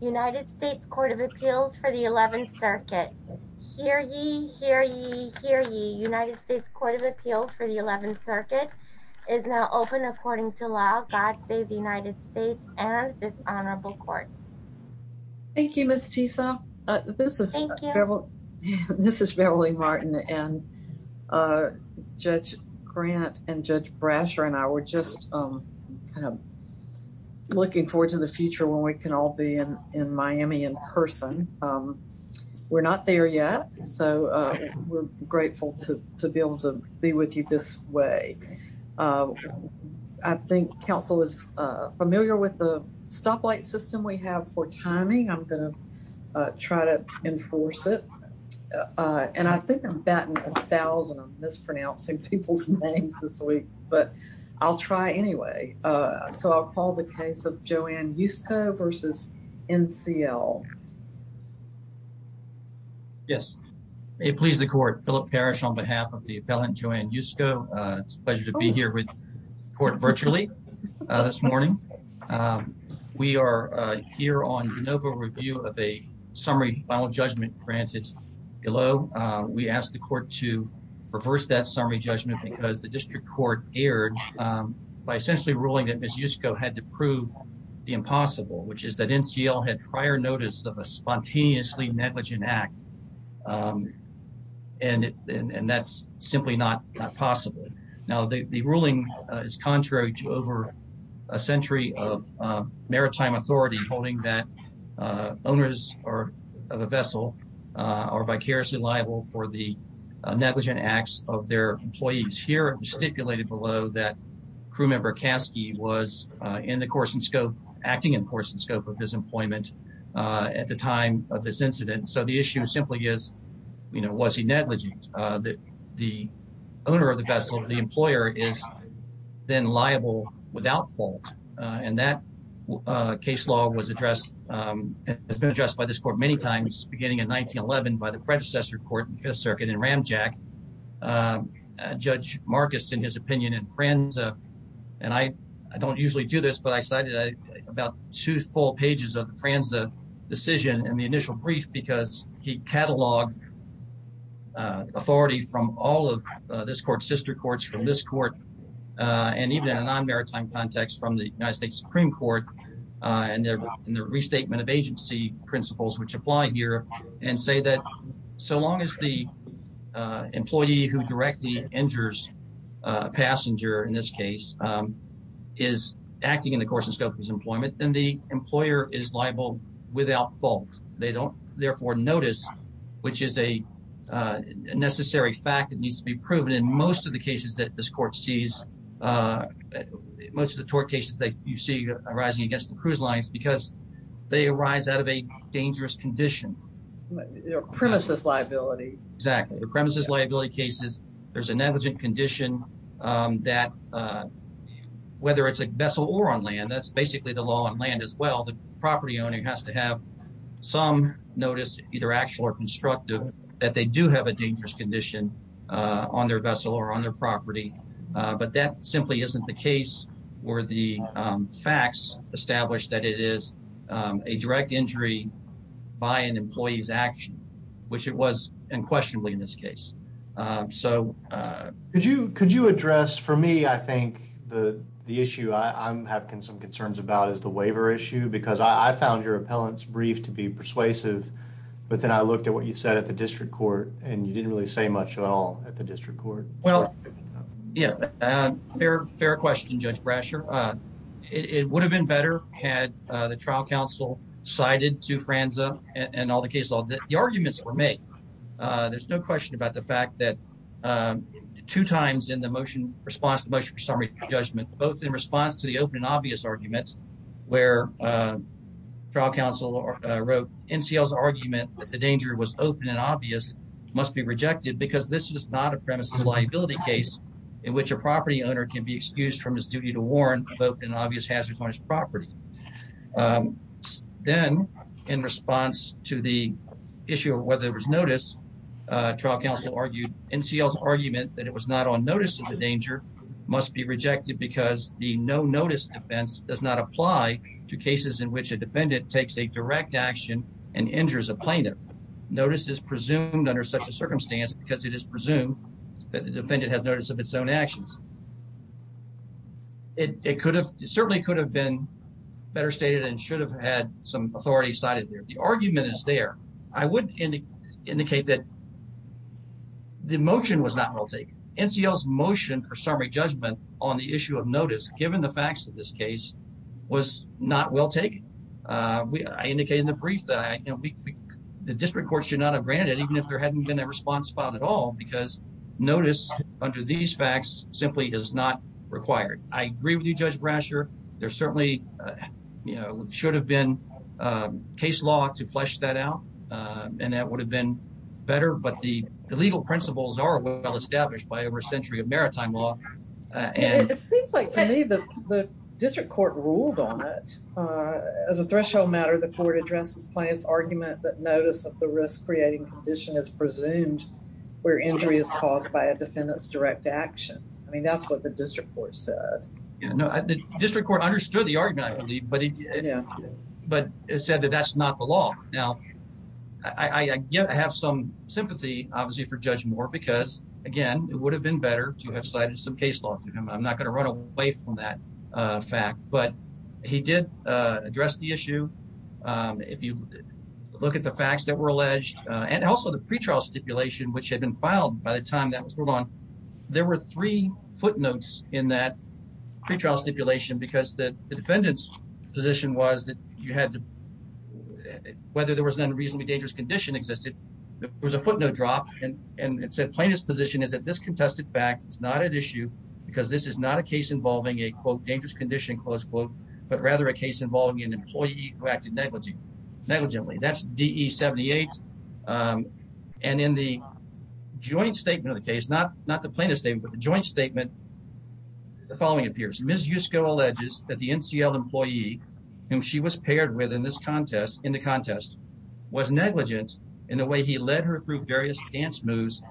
United States Court of Appeals for the 11th Circuit. Hear ye, hear ye, hear ye. United States Court of Appeals for the 11th Circuit is now open according to law. God save the United States and this honorable court. Thank you Ms. Tisa. This is Beverly Martin and Judge Grant and Judge Brasher and I were just kind of looking forward to the future when we can all be in Miami in person. We're not there yet so we're grateful to be able to be with you this way. I think council is familiar with the stoplight system we have for timing. I'm gonna try to enforce it and I think I'm batting a thousand mispronouncing people's names this week but I'll try anyway. So I'll call the case of Joann Yusko versus NCL. Yes, may it please the court. Philip Parrish on behalf of the appellant Joann Yusko. It's a pleasure to be here with court virtually this morning. We are here on de novo review of a summary final judgment granted below. We asked the court to reverse that summary judgment because the district court erred by essentially ruling that Ms. Yusko had to prove the impossible which is that NCL had prior notice of a spontaneously negligent act and that's simply not possible. Now the ruling is contrary to over a century of maritime authority holding that owners are of a vessel are vicariously liable for the negligent acts of their employees. Here stipulated below that crew member Caskey was in the course and scope acting in course and scope of his employment at the time of this incident. So the issue simply is you know was he negligent that the owner of the vessel the employer is then liable without fault and that case law was addressed it's been addressed by this court many times beginning in 1911 by the predecessor court in Fifth Circuit in ramjack Judge Marcus in his opinion and friends and I I don't usually do this but I cited about two full pages of Fran's the decision and the initial brief because he cataloged authority from all of this court sister courts from this court and even a non maritime context from the United States Supreme Court and there in the restatement of agency principles which apply here and say that so long as the employee who directly injures a passenger in this case is acting in the course of scope employment then the employer is liable without fault they don't therefore notice which is a necessary fact that needs to be proven in most of the cases that this court sees most of the tort cases that you see arising against the cruise lines because they arise out of a dangerous condition premises liability exactly the premises liability cases there's a negligent condition that uh whether it's a vessel or on land that's basically the law on land as well the property owner has to have some notice either actual or constructive that they do have a dangerous condition uh on their vessel or on their property but that simply isn't the case or the facts established that it is a direct injury by an employee's action which it was unquestionably in this case. So uh could you could you address for me I think the the issue I'm having some concerns about is the waiver issue because I found your appellants brief to be persuasive but then I looked at what you said at the district court and you didn't really say much at all at the district court. Well yeah um fair fair question Judge Brasher uh it would have been better had the trial counsel cited to Franza and all the cases all the arguments were made uh there's no times in the motion response to motion summary judgment both in response to the open and obvious arguments where trial counsel wrote NCL's argument that the danger was open and obvious must be rejected because this is not a premises liability case in which a property owner can be excused from his duty to warn about an obvious hazards on his property. Then in response to the issue of whether there was notice uh trial counsel argued NCL's argument that it was not on notice of the danger must be rejected because the no notice defense does not apply to cases in which a defendant takes a direct action and injures a plaintiff. Notice is presumed under such a circumstance because it is presumed that the defendant has notice of its own actions. It could have certainly could have been better stated and should have had some authority cited there. The indicate that the motion was not well taken. NCL's motion for summary judgment on the issue of notice given the facts of this case was not well taken. Uh I indicated the brief that the district courts should not have granted it even if there hadn't been a response filed at all because notice under these facts simply is not required. I agree with you Judge Brasher. There certainly uh you know should have been um case law to flesh that out. Uh and that would have been better. But the legal principles are well established by over a century of maritime law. Uh it seems like to me that the district court ruled on it. Uh as a threshold matter, the court addresses plaintiff's argument that notice of the risk creating condition is presumed where injury is caused by a defendant's direct action. I mean that's what the district court said. No, the district court understood the I have some sympathy obviously for judge more because again it would have been better to have cited some case law to him. I'm not gonna run away from that uh fact but he did address the issue. Um if you look at the facts that were alleged and also the pretrial stipulation which had been filed by the time that was going on, there were three footnotes in that pretrial stipulation because the defendant's position was that you had to whether there was an unreasonably dangerous condition existed, there was a footnote drop and and it said plaintiff's position is that this contested fact is not an issue because this is not a case involving a quote dangerous condition close quote but rather a case involving an employee who acted negligent negligently. That's D. E. 78. Um and in the joint statement of the case, not not the plaintiff statement but the joint statement, the following appears. Ms Yusko alleges that the N. C. L. Employee whom she was paired with in this contest in the contest was negligent in the way he led her through various dance moves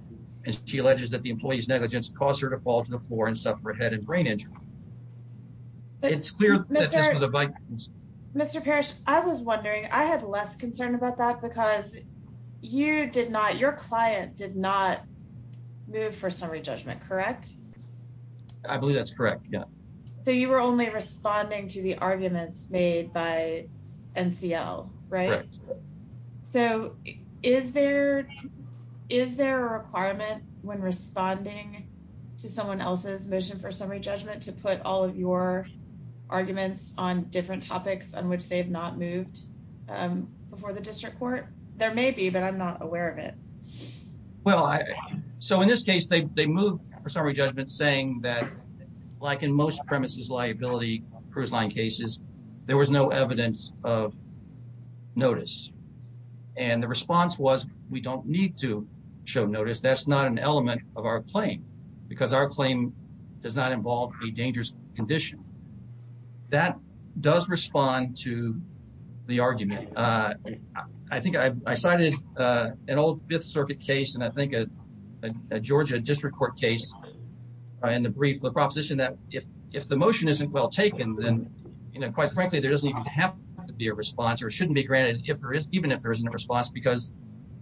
and she alleges that the employee's negligence caused her to fall to the floor and suffer a head and brain injury. It's clear that this was a bike. Mr Parrish, I was wondering, I had less concern about that because you did not. Your client did not move for summary judgment, correct? I believe that's correct. Yeah. So you were only responding to the arguments made by N. C. L. Right. So is there, is there a requirement when responding to someone else's mission for summary judgment to put all of your arguments on different topics on which they have not moved before the district court? There may be, but I'm not aware of it. Well, so in this case they moved for summary judgment saying that like in most premises liability cruise line cases, there was no evidence of notice and the response was we don't need to show notice. That's not an element of our claim because our claim does not involve a dangerous condition that does respond to the argument. Uh, I think I cited an old Fifth Circuit case and I motion isn't well taken, then quite frankly, there doesn't even have to be a response or shouldn't be granted if there is, even if there isn't a response because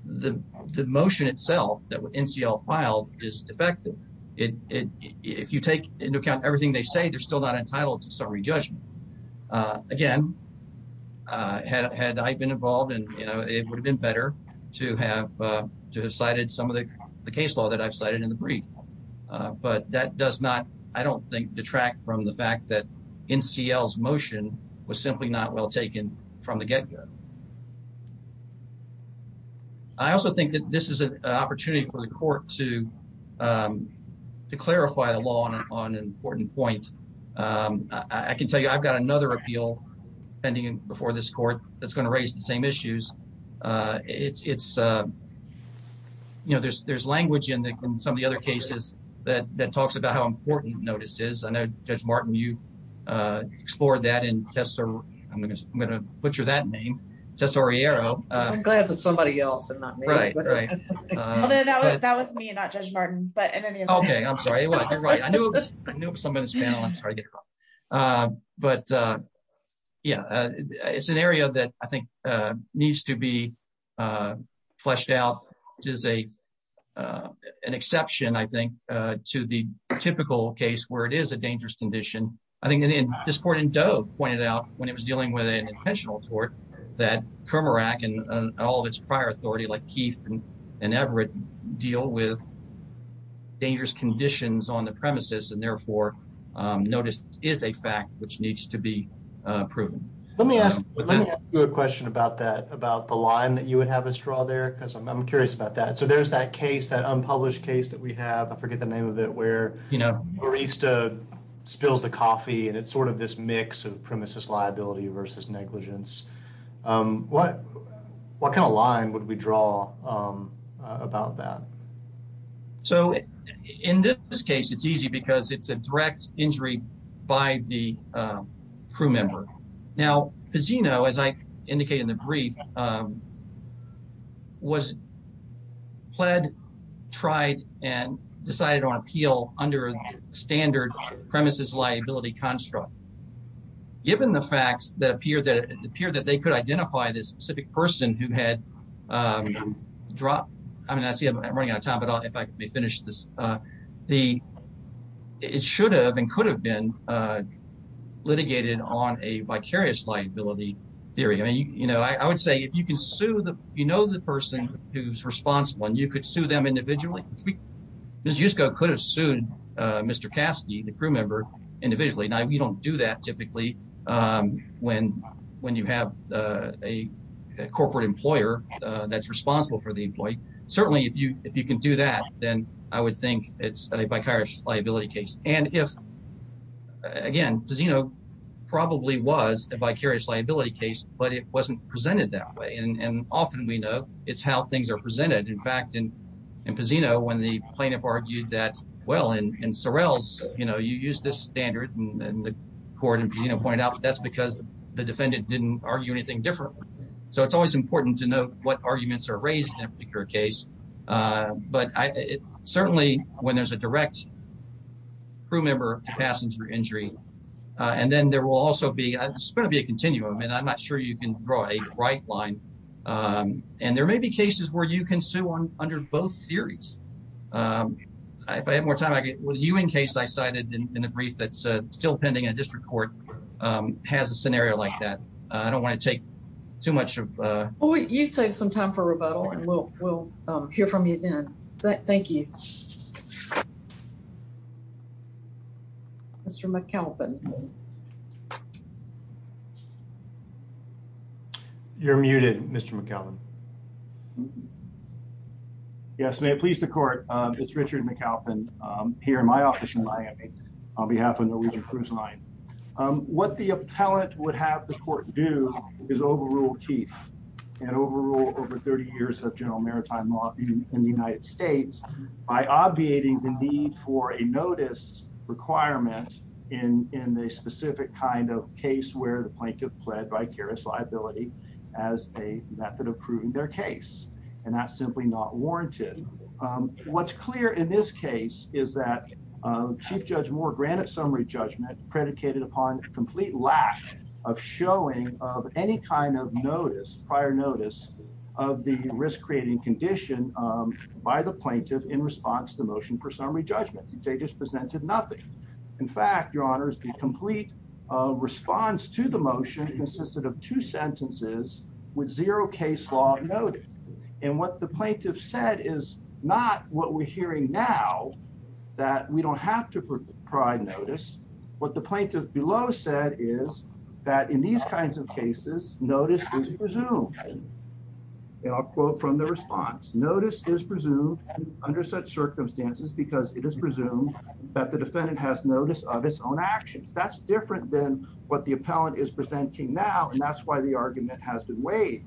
the motion itself that N. C. L. Filed is defective. If you take into account everything they say, they're still not entitled to summary judgment. Again, had I been involved and you know, it would have been better to have decided some of the case law that I've cited in the brief. But that does not, I don't know, I don't know that we would have been able to get away from the fact that in C. L. S motion was simply not well taken from the get go. I also think that this is an opportunity for the court to, um, to clarify the law on an important point. Um, I can tell you I've got another appeal pending before this court that's gonna raise the same issues. Uh, it's it's uh, you know, that talks about how important notice is. I know Judge Martin, you uh, explored that in Tessa. I'm gonna I'm gonna butcher that name. Tessa Riero. I'm glad that somebody else and not me. Right, right. That was me, not Judge Martin. But okay, I'm sorry. You're right. I knew it was somebody's panel. I'm sorry. Uh, but uh, yeah, it's an area that I think, uh, needs to be, uh, fleshed out. It is a, uh, an exception, I think, uh, to the typical case where it is a dangerous condition. I think that in this court in Dove pointed out when it was dealing with an intentional tort that Kermarack and all of its prior authority like Keith and Everett deal with dangerous conditions on the premises and therefore noticed is a fact which needs to be proven. Let me ask you a question about that, about the line that you would have a straw there because I'm curious about that. So there's that case that unpublished case that we have. I forget the name of it, where, you know, barista spills the coffee and it's sort of this mix of premises liability versus negligence. Um, what? What kind of line would we draw? Um, about that? So in this case, it's easy because it's a direct injury by the, uh, crew member. Now, casino, as I indicated in the brief, um, was pled, tried and decided on appeal under standard premises liability construct. Given the facts that appear that appear that they could identify this specific person who had, um, drop. I mean, I see I'm running out of time, but if I may finish this, uh, the it should have and could have been, uh, litigated on a vicarious liability theory. I mean, you know, I would say if you can sue the you know, the person who's responsible and you could sue them individually, Miss Yusko could have sued Mr Cassidy, the crew member individually. Now, we don't do that typically. Um, when when you have a corporate employer that's do that, then I would think it's a vicarious liability case. And if again, does, you know, probably was a vicarious liability case, but it wasn't presented that way. And often we know it's how things are presented. In fact, in in casino, when the plaintiff argued that well, and in Sorrell's, you know, you use this standard and the court and, you know, point out that's because the defendant didn't argue anything different. So it's always important to what arguments are raised in a particular case. But certainly when there's a direct crew member to passenger injury, and then there will also be going to be a continuum, and I'm not sure you can draw a right line. Um, and there may be cases where you can sue on under both theories. Um, if I have more time with you, in case I cited in a brief that's still pending a district court has a take some time for rebuttal, and we'll we'll hear from you again. Thank you. Mr. McKelvin. You're muted, Mr McKellan. Yes. May it please the court. It's Richard McAlpin here in my office in Miami on behalf of Norwegian Cruise Line. Um, what the appellate would have the court do is overruled Keith and overrule over 30 years of general maritime law in the United States by obviating the need for a notice requirement in in the specific kind of case where the plaintiff pled vicarious liability as a method of proving their case, and that's simply not warranted. Um, what's clear in this case is that, um, Chief Judge Moore granted summary judgment predicated upon complete lack of showing of any kind of notice. Prior notice of the risk creating condition by the plaintiff in response to motion for summary judgment. They just presented nothing. In fact, your honors, the complete response to the motion consisted of two sentences with zero case law noted. And what the plaintiff said is not what we're now that we don't have to provide notice. What the plaintiff below said is that in these kinds of cases, notice is presumed. I'll quote from the response. Notice is presumed under such circumstances because it is presumed that the defendant has notice of its own actions. That's different than what the appellant is presenting now, and that's why the argument has been waived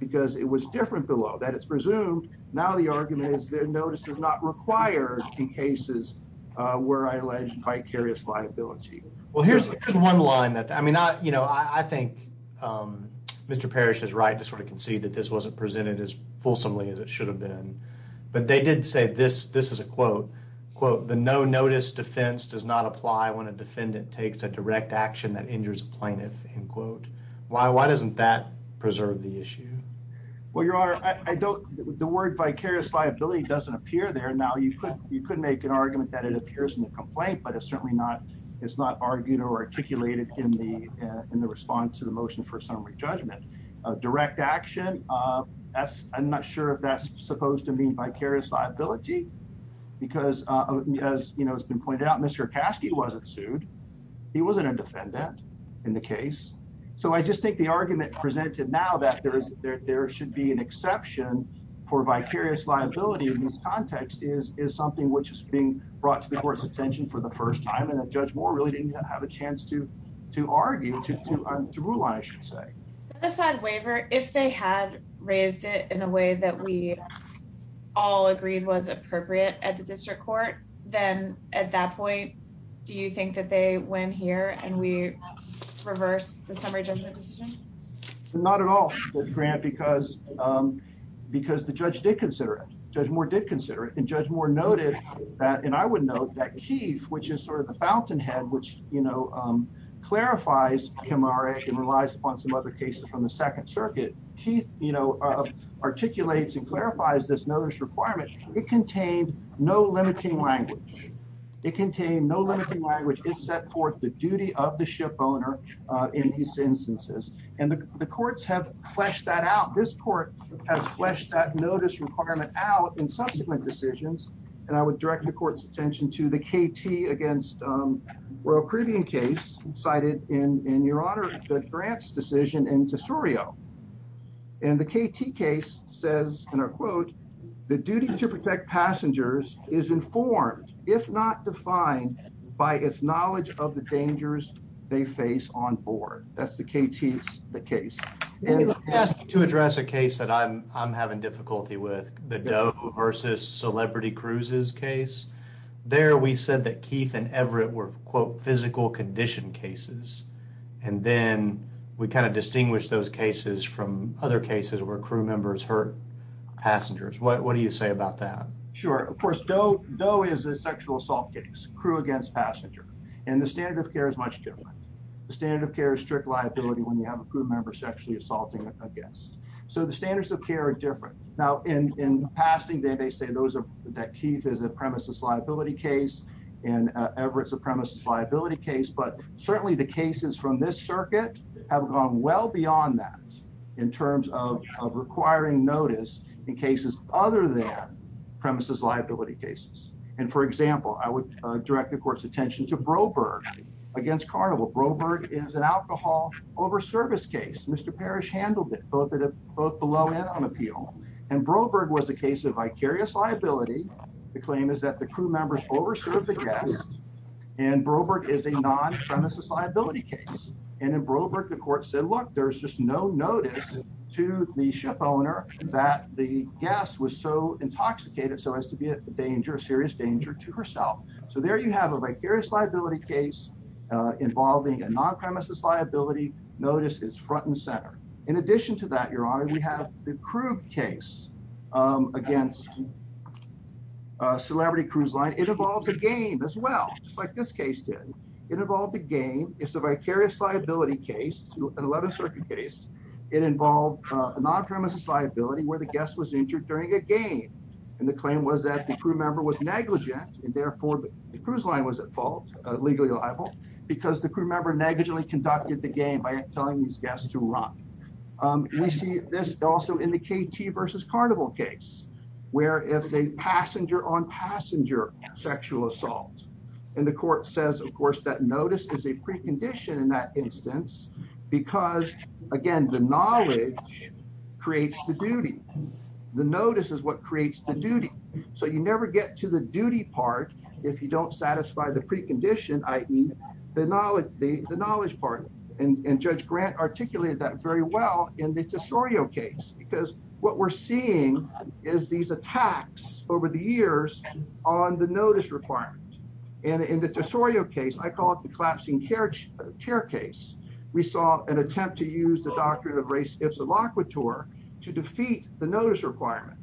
because it was different below that. It's presumed. Now the argument is their notice is not required in cases where I alleged vicarious liability. Well, here's one line that I mean, I you know, I think, um, Mr Parish is right to sort of concede that this wasn't presented as fulsomely as it should have been. But they did say this. This is a quote quote. The no notice defense does not apply when a defendant takes a direct action that injures plaintiff in quote. Why? Why doesn't that preserve the issue? Well, your honor, I don't. The word vicarious liability doesn't appear there now. You could. You could make an argument that it appears in the complaint, but it's certainly not. It's not argued or articulated in the in the response to the motion for summary judgment. Direct action. Uh, that's I'm not sure if that's supposed to mean vicarious liability because, uh, as you know, it's been pointed out, Mr Caskey wasn't sued. He wasn't a defendant in the case. So I just think the argument presented now that there is there should be an exception for vicarious liability in this context is is something which is being brought to the court's attention for the first time. And the judge more really didn't have a chance to to argue to to to rule on, I should say the side waiver if they had raised it in a way that we all agreed was appropriate at the district court. Then at that point, do you think that they went here and we reverse the summary judgment decision? Not at all. Grant, because, um, because the judge did consider it, Judge Moore did consider it and Judge Moore noted that and I would know that Keith, which is sort of the fountainhead, which, you know, um, clarifies Camara and relies upon some other cases from the Second Circuit. Keith, you know, articulates and clarifies this notice requirement. It contained no limiting language. It contained no limiting language is set forth the duty of the ship owner in these instances, and the courts have fleshed that out. This court has fleshed that notice requirement out in subsequent decisions, and I would direct the court's attention to the KT against, um, Royal Caribbean case cited in your honor the grants decision into Surio. And the KT case says in a quote, the duty to protect passengers is informed, if not defined by its knowledge of the dangers they face on board. That's the KT. It's the case to address a case that I'm I'm having difficulty with the Doe versus Celebrity Cruises case. There we said that Keith and Everett were quote, physical condition cases. And then we kind of distinguish those cases from other cases where crew members hurt passengers. What do you say about that? Sure. Of course, Doe is a sexual assault case, crew against passenger, and the standard of care is much different. The standard of care is strict liability when you have a crew member sexually assaulting a guest. So the standards of care are different. Now in passing, they may say those that Keith is a premises liability case and Everett's a premises liability case. But certainly the cases from this circuit have gone well beyond that in terms of requiring notice in cases other than premises liability cases. And, for example, I would direct the court's attention to Broberg against Carnival. Broberg is an alcohol over service case. Mr Parish handled it both at both below and on appeal, and Broberg was a case of vicarious liability. The claim is that the crew members over served the guest, and Broberg is a non premises liability case. And in Broberg, the court said, Look, there's just no notice to the ship owner that the guest was so intoxicated so as to be a danger, serious danger to herself. So there you have a vicarious liability case involving a non premises liability. Notice is front and center. In addition to that, your honor, we have the crew case against celebrity cruise line. It involves a game as well, just like this case did. It involved a game. It's a vicarious liability case. 11 circuit case. It involved a non premises liability where the guest was injured during a game, and the claim was that the crew member was negligent, and therefore the cruise line was at fault legally liable because the crew member negligently conducted the game by telling these guests to run. We see this also in the KT versus Carnival case, where it's a passenger on passenger sexual assault. And the court says, of course, that notice is a precondition in that instance, because again, the knowledge creates the duty. The notice is what creates the duty. So you never get to the duty part if you don't satisfy the and Judge Grant articulated that very well in the Tesorio case, because what we're seeing is these attacks over the years on the notice requirement. And in the Tesorio case, I call it the collapsing carriage chair case. We saw an attempt to use the doctrine of race. It's a lock with tour to defeat the notice requirement.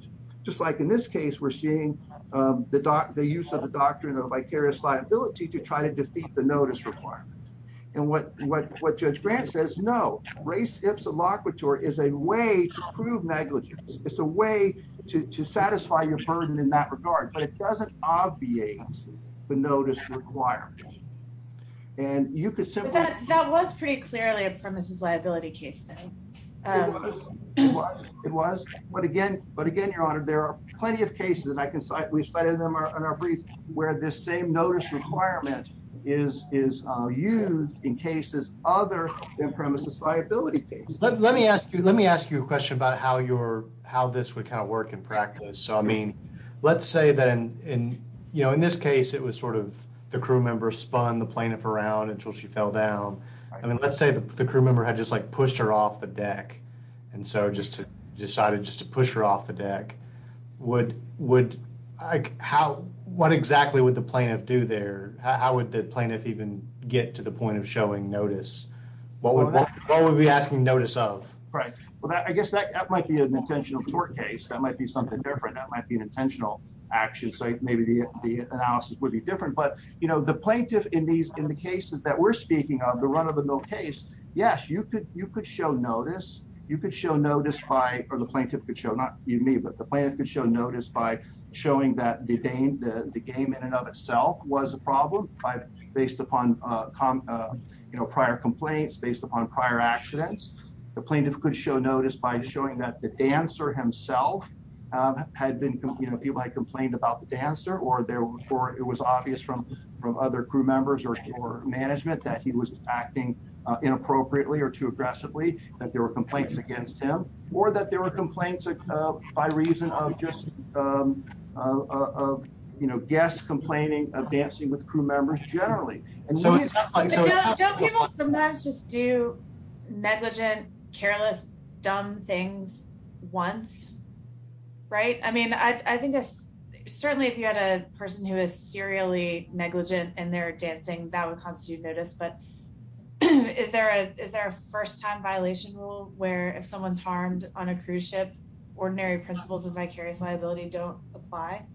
Just like in this case, we're seeing the use of the doctrine of vicarious liability to try to defeat the notice requirement. And what? What? What? Judge Grant says, No, race. It's a lock with tour is a way to prove negligence. It's a way to satisfy your burden in that regard, but it doesn't obviate the notice requirement. And you could say that was pretty clearly a premises liability case. It was. It was. But again, but again, your honor, there are plenty of cases that I can cite. We studied them on our brief where this same notice requirement is used in cases other than premises liability case. Let me ask you. Let me ask you a question about how your how this would kind of work in practice. So, I mean, let's say that in, you know, in this case, it was sort of the crew member spun the plaintiff around until she fell down. I mean, let's say the crew member had just, like, pushed her off the deck and so just decided just to push her off the deck. What would how? What exactly would the plaintiff do there? How would the plaintiff even get to the point of showing notice? What would be asking notice of? Right. Well, I guess that might be an intentional court case. That might be something different. That might be an intentional action. So maybe the analysis would be different. But, you know, the plaintiff in these in the cases that we're speaking of the run of the mill case. Yes, you could. You could show notice. You could show notice by or the plaintiff could show not you need, but the plan could show notice by showing that the game, the game in and of itself was a problem based upon, you know, prior complaints based upon prior accidents. The plaintiff could show notice by showing that the dancer himself had been, you know, people had complained about the dancer or there were, it was obvious from other crew members or management that he was acting inappropriately or too aggressively, that there were complaints against him or that there were complaints by reason of just, um, of, you know, guests complaining of dancing with crew members generally. And so don't people sometimes just do negligent, careless, dumb things once. Right. I mean, I think certainly if you had a person who is serially negligent and they're dancing, that would constitute notice. But is there a Is there a first time violation rule where if someone's harmed on a cruise ship, ordinary principles of vicarious liability don't apply?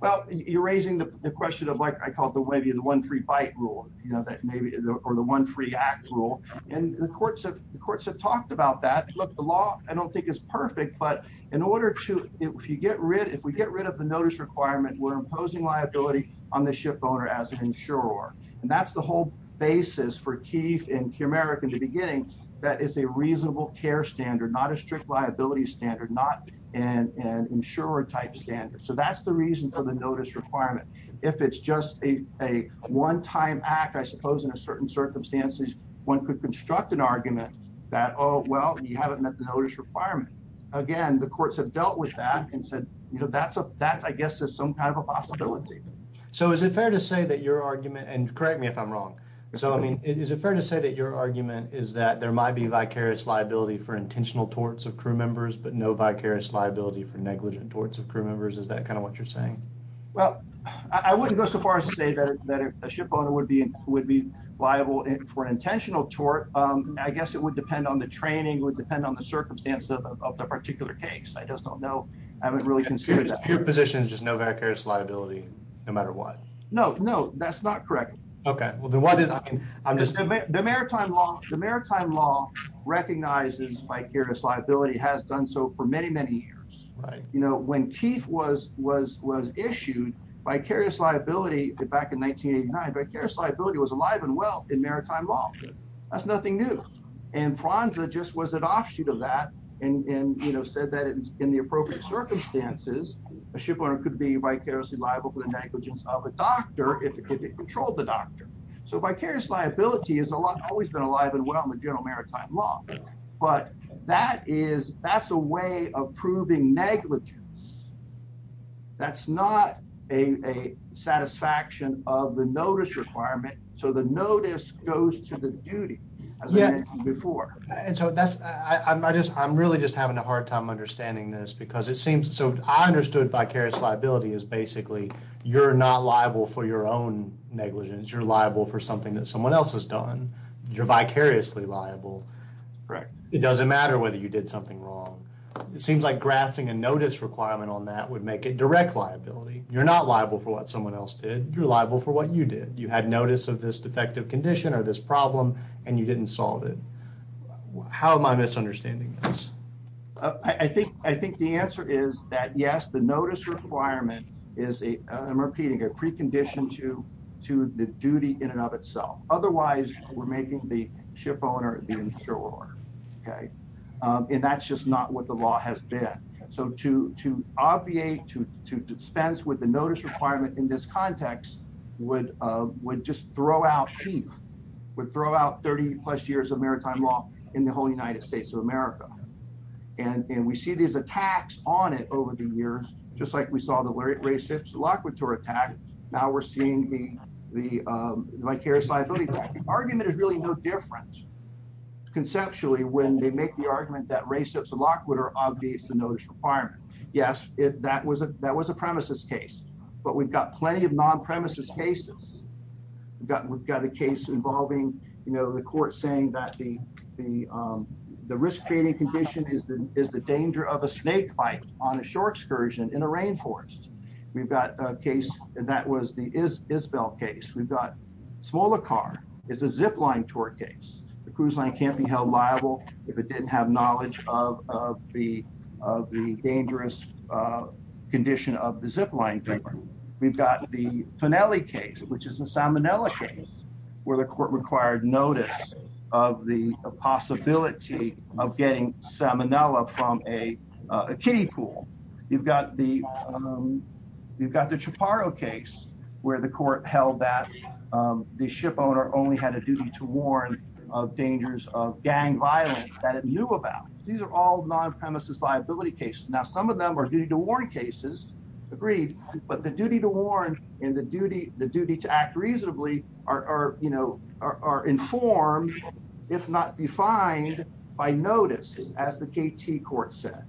Well, you're raising the question of like I called the way of the one free bite rule, you know, that maybe or the one free act rule and the courts of the courts have talked about that. Look, the law, I don't think it's perfect, but in order to if you get rid, if we get rid of the notice requirement, we're imposing liability on the ship owner as an insurer. And that's the whole basis for keef in America in the beginning. That is a reasonable care standard, not a strict liability standard, not an insurer type standard. So that's the reason for the notice requirement. If it's just a one time act, I suppose, in a certain circumstances, one could construct an argument that oh, well, you haven't met the notice requirement again. The courts have dealt with that and said, you know, that's a that's I guess there's some kind of a possibility. So is it fair to say that your argument and correct me if I'm wrong. So I mean, is it fair to say that your argument is that there might be vicarious liability for intentional torts of crew members, but no vicarious liability for negligent torts of crew members? Is that kind of what you're saying? Well, I wouldn't go so far as to say that a ship owner would be would be liable for an intentional tort. Um, I guess it would depend on the training would depend on the circumstances of the particular case. I just don't know. I haven't really considered that your position is just no vicarious liability no matter what. No, no, that's not correct. Okay. Well, then what is I'm just the maritime law. The maritime law recognizes vicarious liability has done so for many, many years. You know, when Keith was was was issued vicarious liability back in 1989, vicarious liability was alive and well in maritime law. That's nothing new. And Franza just was an offshoot of that. And, you know, said that in the appropriate circumstances, a ship owner could be vicariously liable for the negligence of a doctor if it could control the doctor. So vicarious liability is a lot always been alive and well in the general maritime law. But that is that's a way of proving negligence. That's not a satisfaction of the notice requirement. So the notice goes to the duty before. And so that's I just I'm really just having a I think the answer is that, yes, the notice requirement for vicarious liability is basically you're not liable for your own negligence. You're liable for something that someone else has done. You're vicariously liable. Correct. It doesn't matter whether you did something wrong. It seems like grafting a notice requirement on that would make it direct liability. You're not liable for what someone else did. You're liable for what you did. You had notice of this defective condition or this problem and you didn't solve it. How am I misunderstanding this? I think I think the answer is that, yes, the notice requirement is a I'm repeating a precondition to to the duty in and of itself. Otherwise we're making the ship owner the insurer. Okay. Um, and that's just not what the law has been. So to to obviate to to dispense with the notice requirement in this context would would just throw out would throw out 30 plus years of maritime law in the whole United States of America. And and we see these attacks on it over the years, just like we saw the racist lock with her attack. Now we're seeing the the um vicarious liability argument is really no different conceptually when they make the argument that racist lock would are obvious to notice requirement. Yes, that was a that was a premises case, but we've got plenty of non premises cases. We've got, we've got a case involving, you know, the court saying that the the um the risk creating condition is the is the danger of a snake bite on a shore excursion in a rainforest. We've got a case that was the is Isabel case. We've got smaller car is a zip line tour case. The cruise line can't be held liable if it didn't have knowledge of of the of the dangerous uh condition of the zip line. We've got the finale case, which is the salmonella case where the court required notice of the possibility of getting salmonella from a kiddie pool. You've got the um you've got the chaparro case where the court held that um the ship owner only had a duty to warn of dangers of gang violence that it knew about. These are all non premises liability cases. Now some of them are due to warn cases agreed, but the duty to warn and the duty, the duty to act reasonably are, you know, are informed if not defined by notice as the KT court said.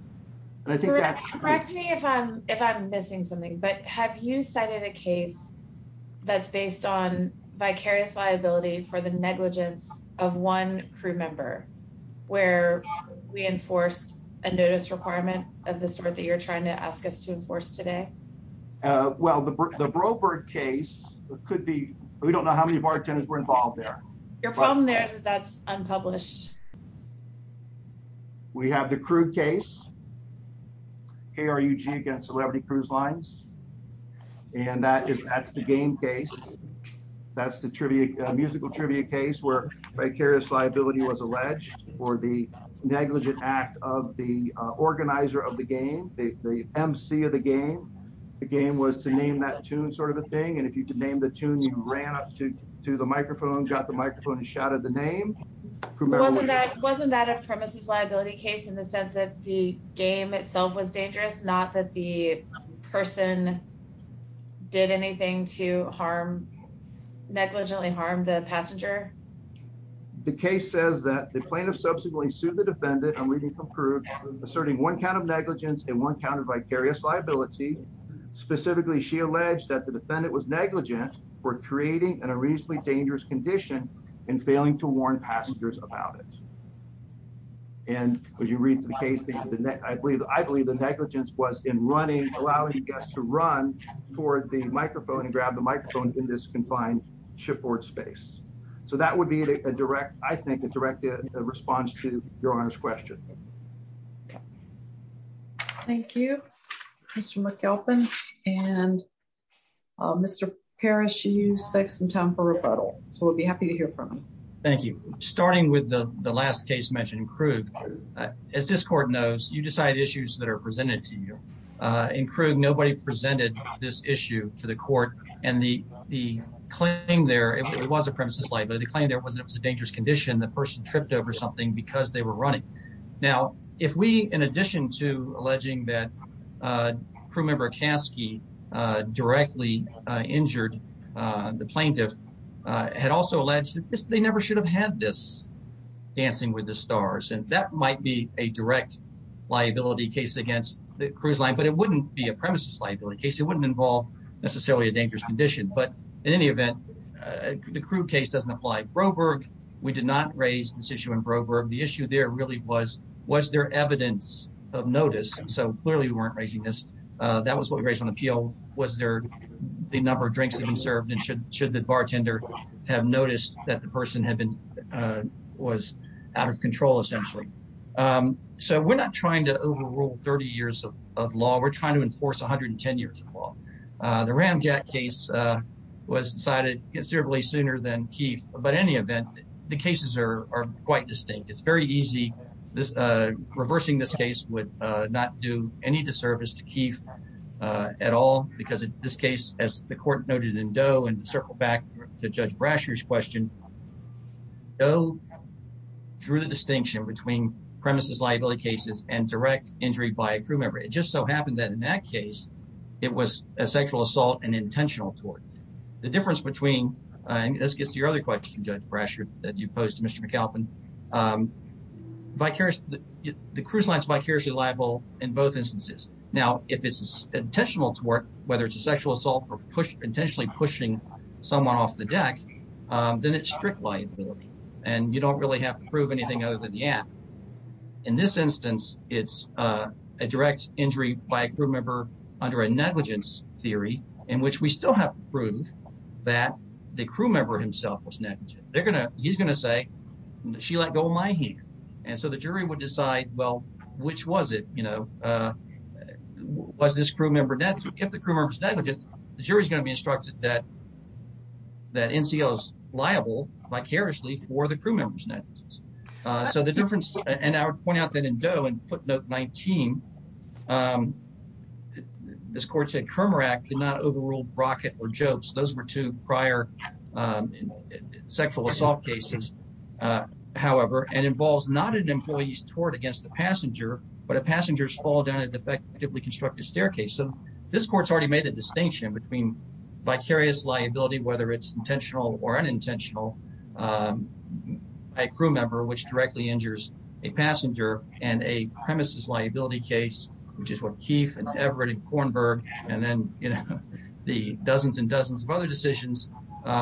And I think that's correct to me if I'm if I'm missing something, but have you cited a case that's based on vicarious liability for the negligence of one crew member where we enforced a notice requirement of the that you're trying to ask us to enforce today? Well, the the Broberg case could be. We don't know how many bartenders were involved there. Your problem. There's that's unpublished. We have the crude case here. You G against celebrity cruise lines. And that is that's the game case. That's the trivia musical trivia case where vicarious liability was alleged for the negligent act of the organizer of the game. The M. C. Of the game. The game was to name that tune sort of a thing. And if you could name the tune, you ran up to to the microphone, got the microphone and shouted the name. Wasn't that wasn't that a premises liability case in the sense that the game itself was dangerous, not that the person did anything to harm negligently harm the passenger. The case says that the plaintiff subsequently sued the defendant. I'm reading from prove asserting one kind of negligence in one counter vicarious liability. Specifically, she alleged that the defendant was negligent for creating in a reasonably dangerous condition and failing to warn passengers about it. And would you read the case? I believe I believe the negligence was in running, allowing us to run toward the microphone and grab the microphone in this confined shipboard space. So that would be a direct, I think, a direct response to your honor's question. Thank you, Mr McAlpin and Mr Parish. You say some time for rebuttal. So we'll be happy to hear from you. Thank you. Starting with the last case mentioned in Krug. As this court knows, you decide issues that are presented to you. Uh, include. Nobody presented this issue to the court and the claim there. It was a premises light, but the claim there wasn't. It was a dangerous condition. The person tripped over something because they were running. Now, if we, in addition to alleging that, uh, crew member Kasky, uh, directly injured the plaintiff had also alleged that they never should have had this dancing with the stars. And that might be a direct liability case against the cruise line, but it wouldn't be a premises liability case. It wouldn't involve necessarily a dangerous condition. But in any event, the crude case doesn't apply. Broberg. We did not raise this issue in Broberg. The issue there really was, was there evidence of notice? So clearly we weren't raising this. That was what we raised on appeal. Was there the number of drinks that we served and should should the bartender have noticed that the person had been, uh, was out of control, essentially. Um, so we're not trying to overrule 30 years of law. We're trying to enforce 110 years of law. The ramjet case, uh, was decided considerably sooner than Keith. But any event, the cases are quite distinct. It's very easy. This reversing this case would not do any disservice to Keith at all, because in this case, as the court noted in Doe and circle back to Judge Brasher's question, though, drew the distinction between premises liability cases and direct injury by a crew member. It just so happened that in that case it was a sexual assault and intentional toward the difference between this gets to your other question, Judge Brasher that you posed to Mr McAlpin. Um, vicarious the cruise lines vicariously liable in both instances. Now, if it's intentional to work, whether it's a sexual assault or intentionally pushing someone off the deck, then it's strict liability, and you don't really have to prove anything other than the app. In this instance, it's a direct injury by a crew member under a negligence theory in which we still have to prove that the crew member himself was negative. They're gonna He's gonna say she let go of my hand. And so the jury would decide, Well, which was it? You know, uh, was this crew member death? If the crew members negligent, the jury's gonna be that NCL is liable vicariously for the crew members. Now, uh, so the difference and I would point out that in dough and footnote 19. Um, this court said Kermer Act did not overruled rocket or jokes. Those were two prior, um, sexual assault cases. Uh, however, and involves not an employee's toward against the passenger, but a passenger's fall down a defectively constructed staircase. So this court's already made the distinction between vicarious liability, whether it's intentional or unintentional. Um, a crew member, which directly injures a passenger and a premises liability case, which is what Keefe and Everett and Kornberg and then, you know, the dozens and dozens of other decisions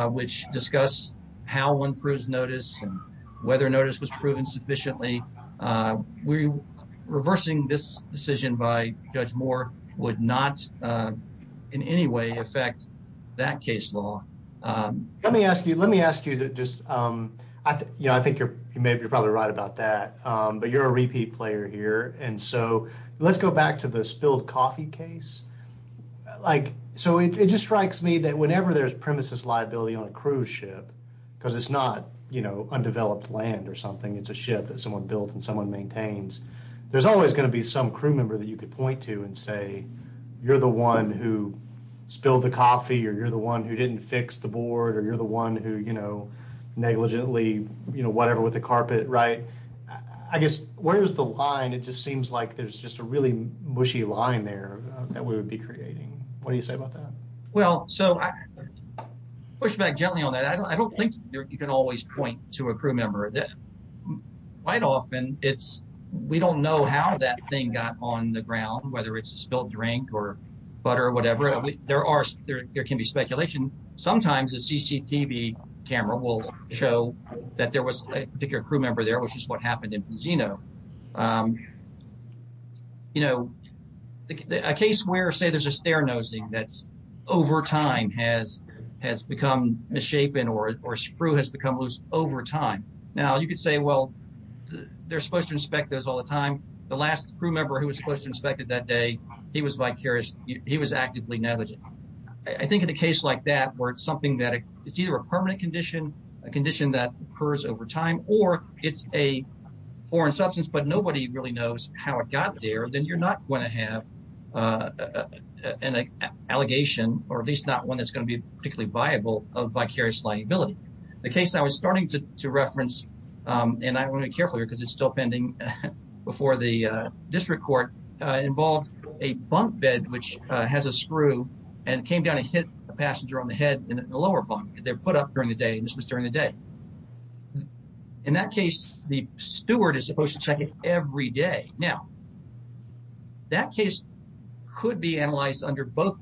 which discuss how one proves notice and whether notice was proven sufficiently. Uh, we reversing this decision by Judge Moore would not, uh, in any way affect that case law. Um, let me ask you, let me ask you that just, um, you know, I think you're maybe you're probably right about that. Um, but you're a repeat player here. And so let's go back to the spilled coffee case. Like, so it just strikes me that whenever there's premises liability on a cruise ship because it's not, you know, undeveloped land or something, it's a ship that someone built and someone maintains. There's always gonna be some crew member that you could point to and say, you're the one who spilled the coffee, or you're the one who didn't fix the board, or you're the one who, you know, negligently, you know, whatever with the carpet, right? I guess, where's the line? It just seems like there's just a really mushy line there that we would be creating. What do you say about that? Well, so I push back gently on that. I don't think you can always point to a crew member that quite often. It's we don't know how that thing got on the ground, whether it's a spilled drink or butter or whatever. There are. There can be speculation. Sometimes the CCTV camera will show that there was a particular crew member there, which is what happened in Zeno. Um, you know, a case where, say, there's a stair nosing that's over time has has become misshapen or or screw has become loose over time. Now you could say, well, they're supposed to inspect those all the time. The last crew member who was supposed to inspected that day he was vicarious. He was actively negligent. I think in a case like that, where it's something that it's either a permanent condition, a condition that occurs over time, or it's a foreign substance, but nobody really knows how it got there, then you're not going to have, uh, an allegation, or at least not one that's gonna be particularly viable of vicarious liability. The case I was starting to reference, um, and I want to be careful here because it's still pending before the district court involved a bunk bed, which has a screw and came down and hit a passenger on the head in the lower bunk. They're put up during the day. This was during the day. In that case, the steward is supposed to check it every day. Now that case could be analyzed under both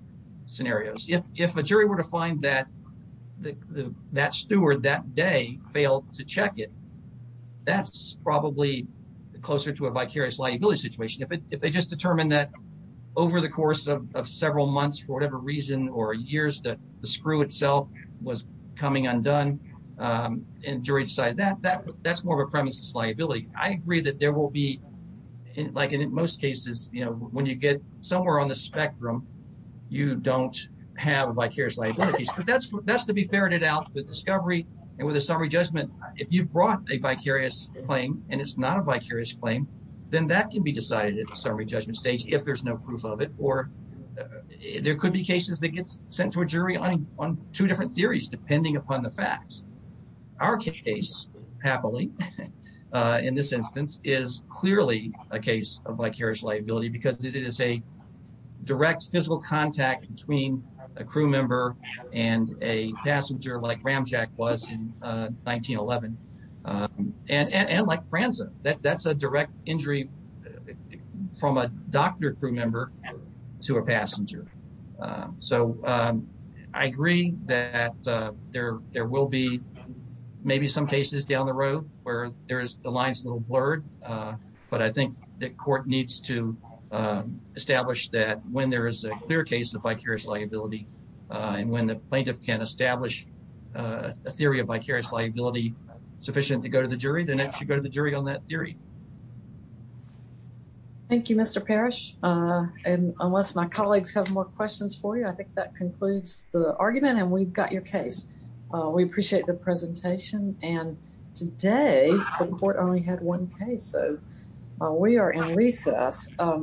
scenarios. If if a jury were to find that that steward that day failed to check it, that's probably closer to a vicarious liability situation. If they just determined that over the course of several months, for whatever reason, or years that the screw itself was coming undone, um, enjoyed side that that that's more of a premises liability. I agree that there will be like in most cases, you know, when you get somewhere on the spectrum, you don't have a vicarious liability, but that's that's to be ferreted out with discovery and with a summary judgment. If you've brought a vicarious claim and it's not a vicarious claim, then that could be decided at the summary judgment stage if there's no proof of it. Or there could be cases that gets sent to a jury on on two different theories, depending upon the facts. Our case happily in this instance is clearly a case of vicarious liability because it is a direct physical contact between a crew member and a passenger like Ram Jack was in 1911. Uh, and and like Franza, that's that's a direct injury from a doctor crew member to a there. There will be maybe some cases down the road where there's the lines little blurred. But I think the court needs to establish that when there is a clear case of vicarious liability on when the plaintiff can establish a theory of vicarious liability sufficient to go to the jury, then it should go to the jury on that theory. Thank you, Mr Parish. Uh, unless my colleagues have more questions for you, I think that concludes the argument and we've got your case. We appreciate the presentation. And today the court only had one case. So we are in recess.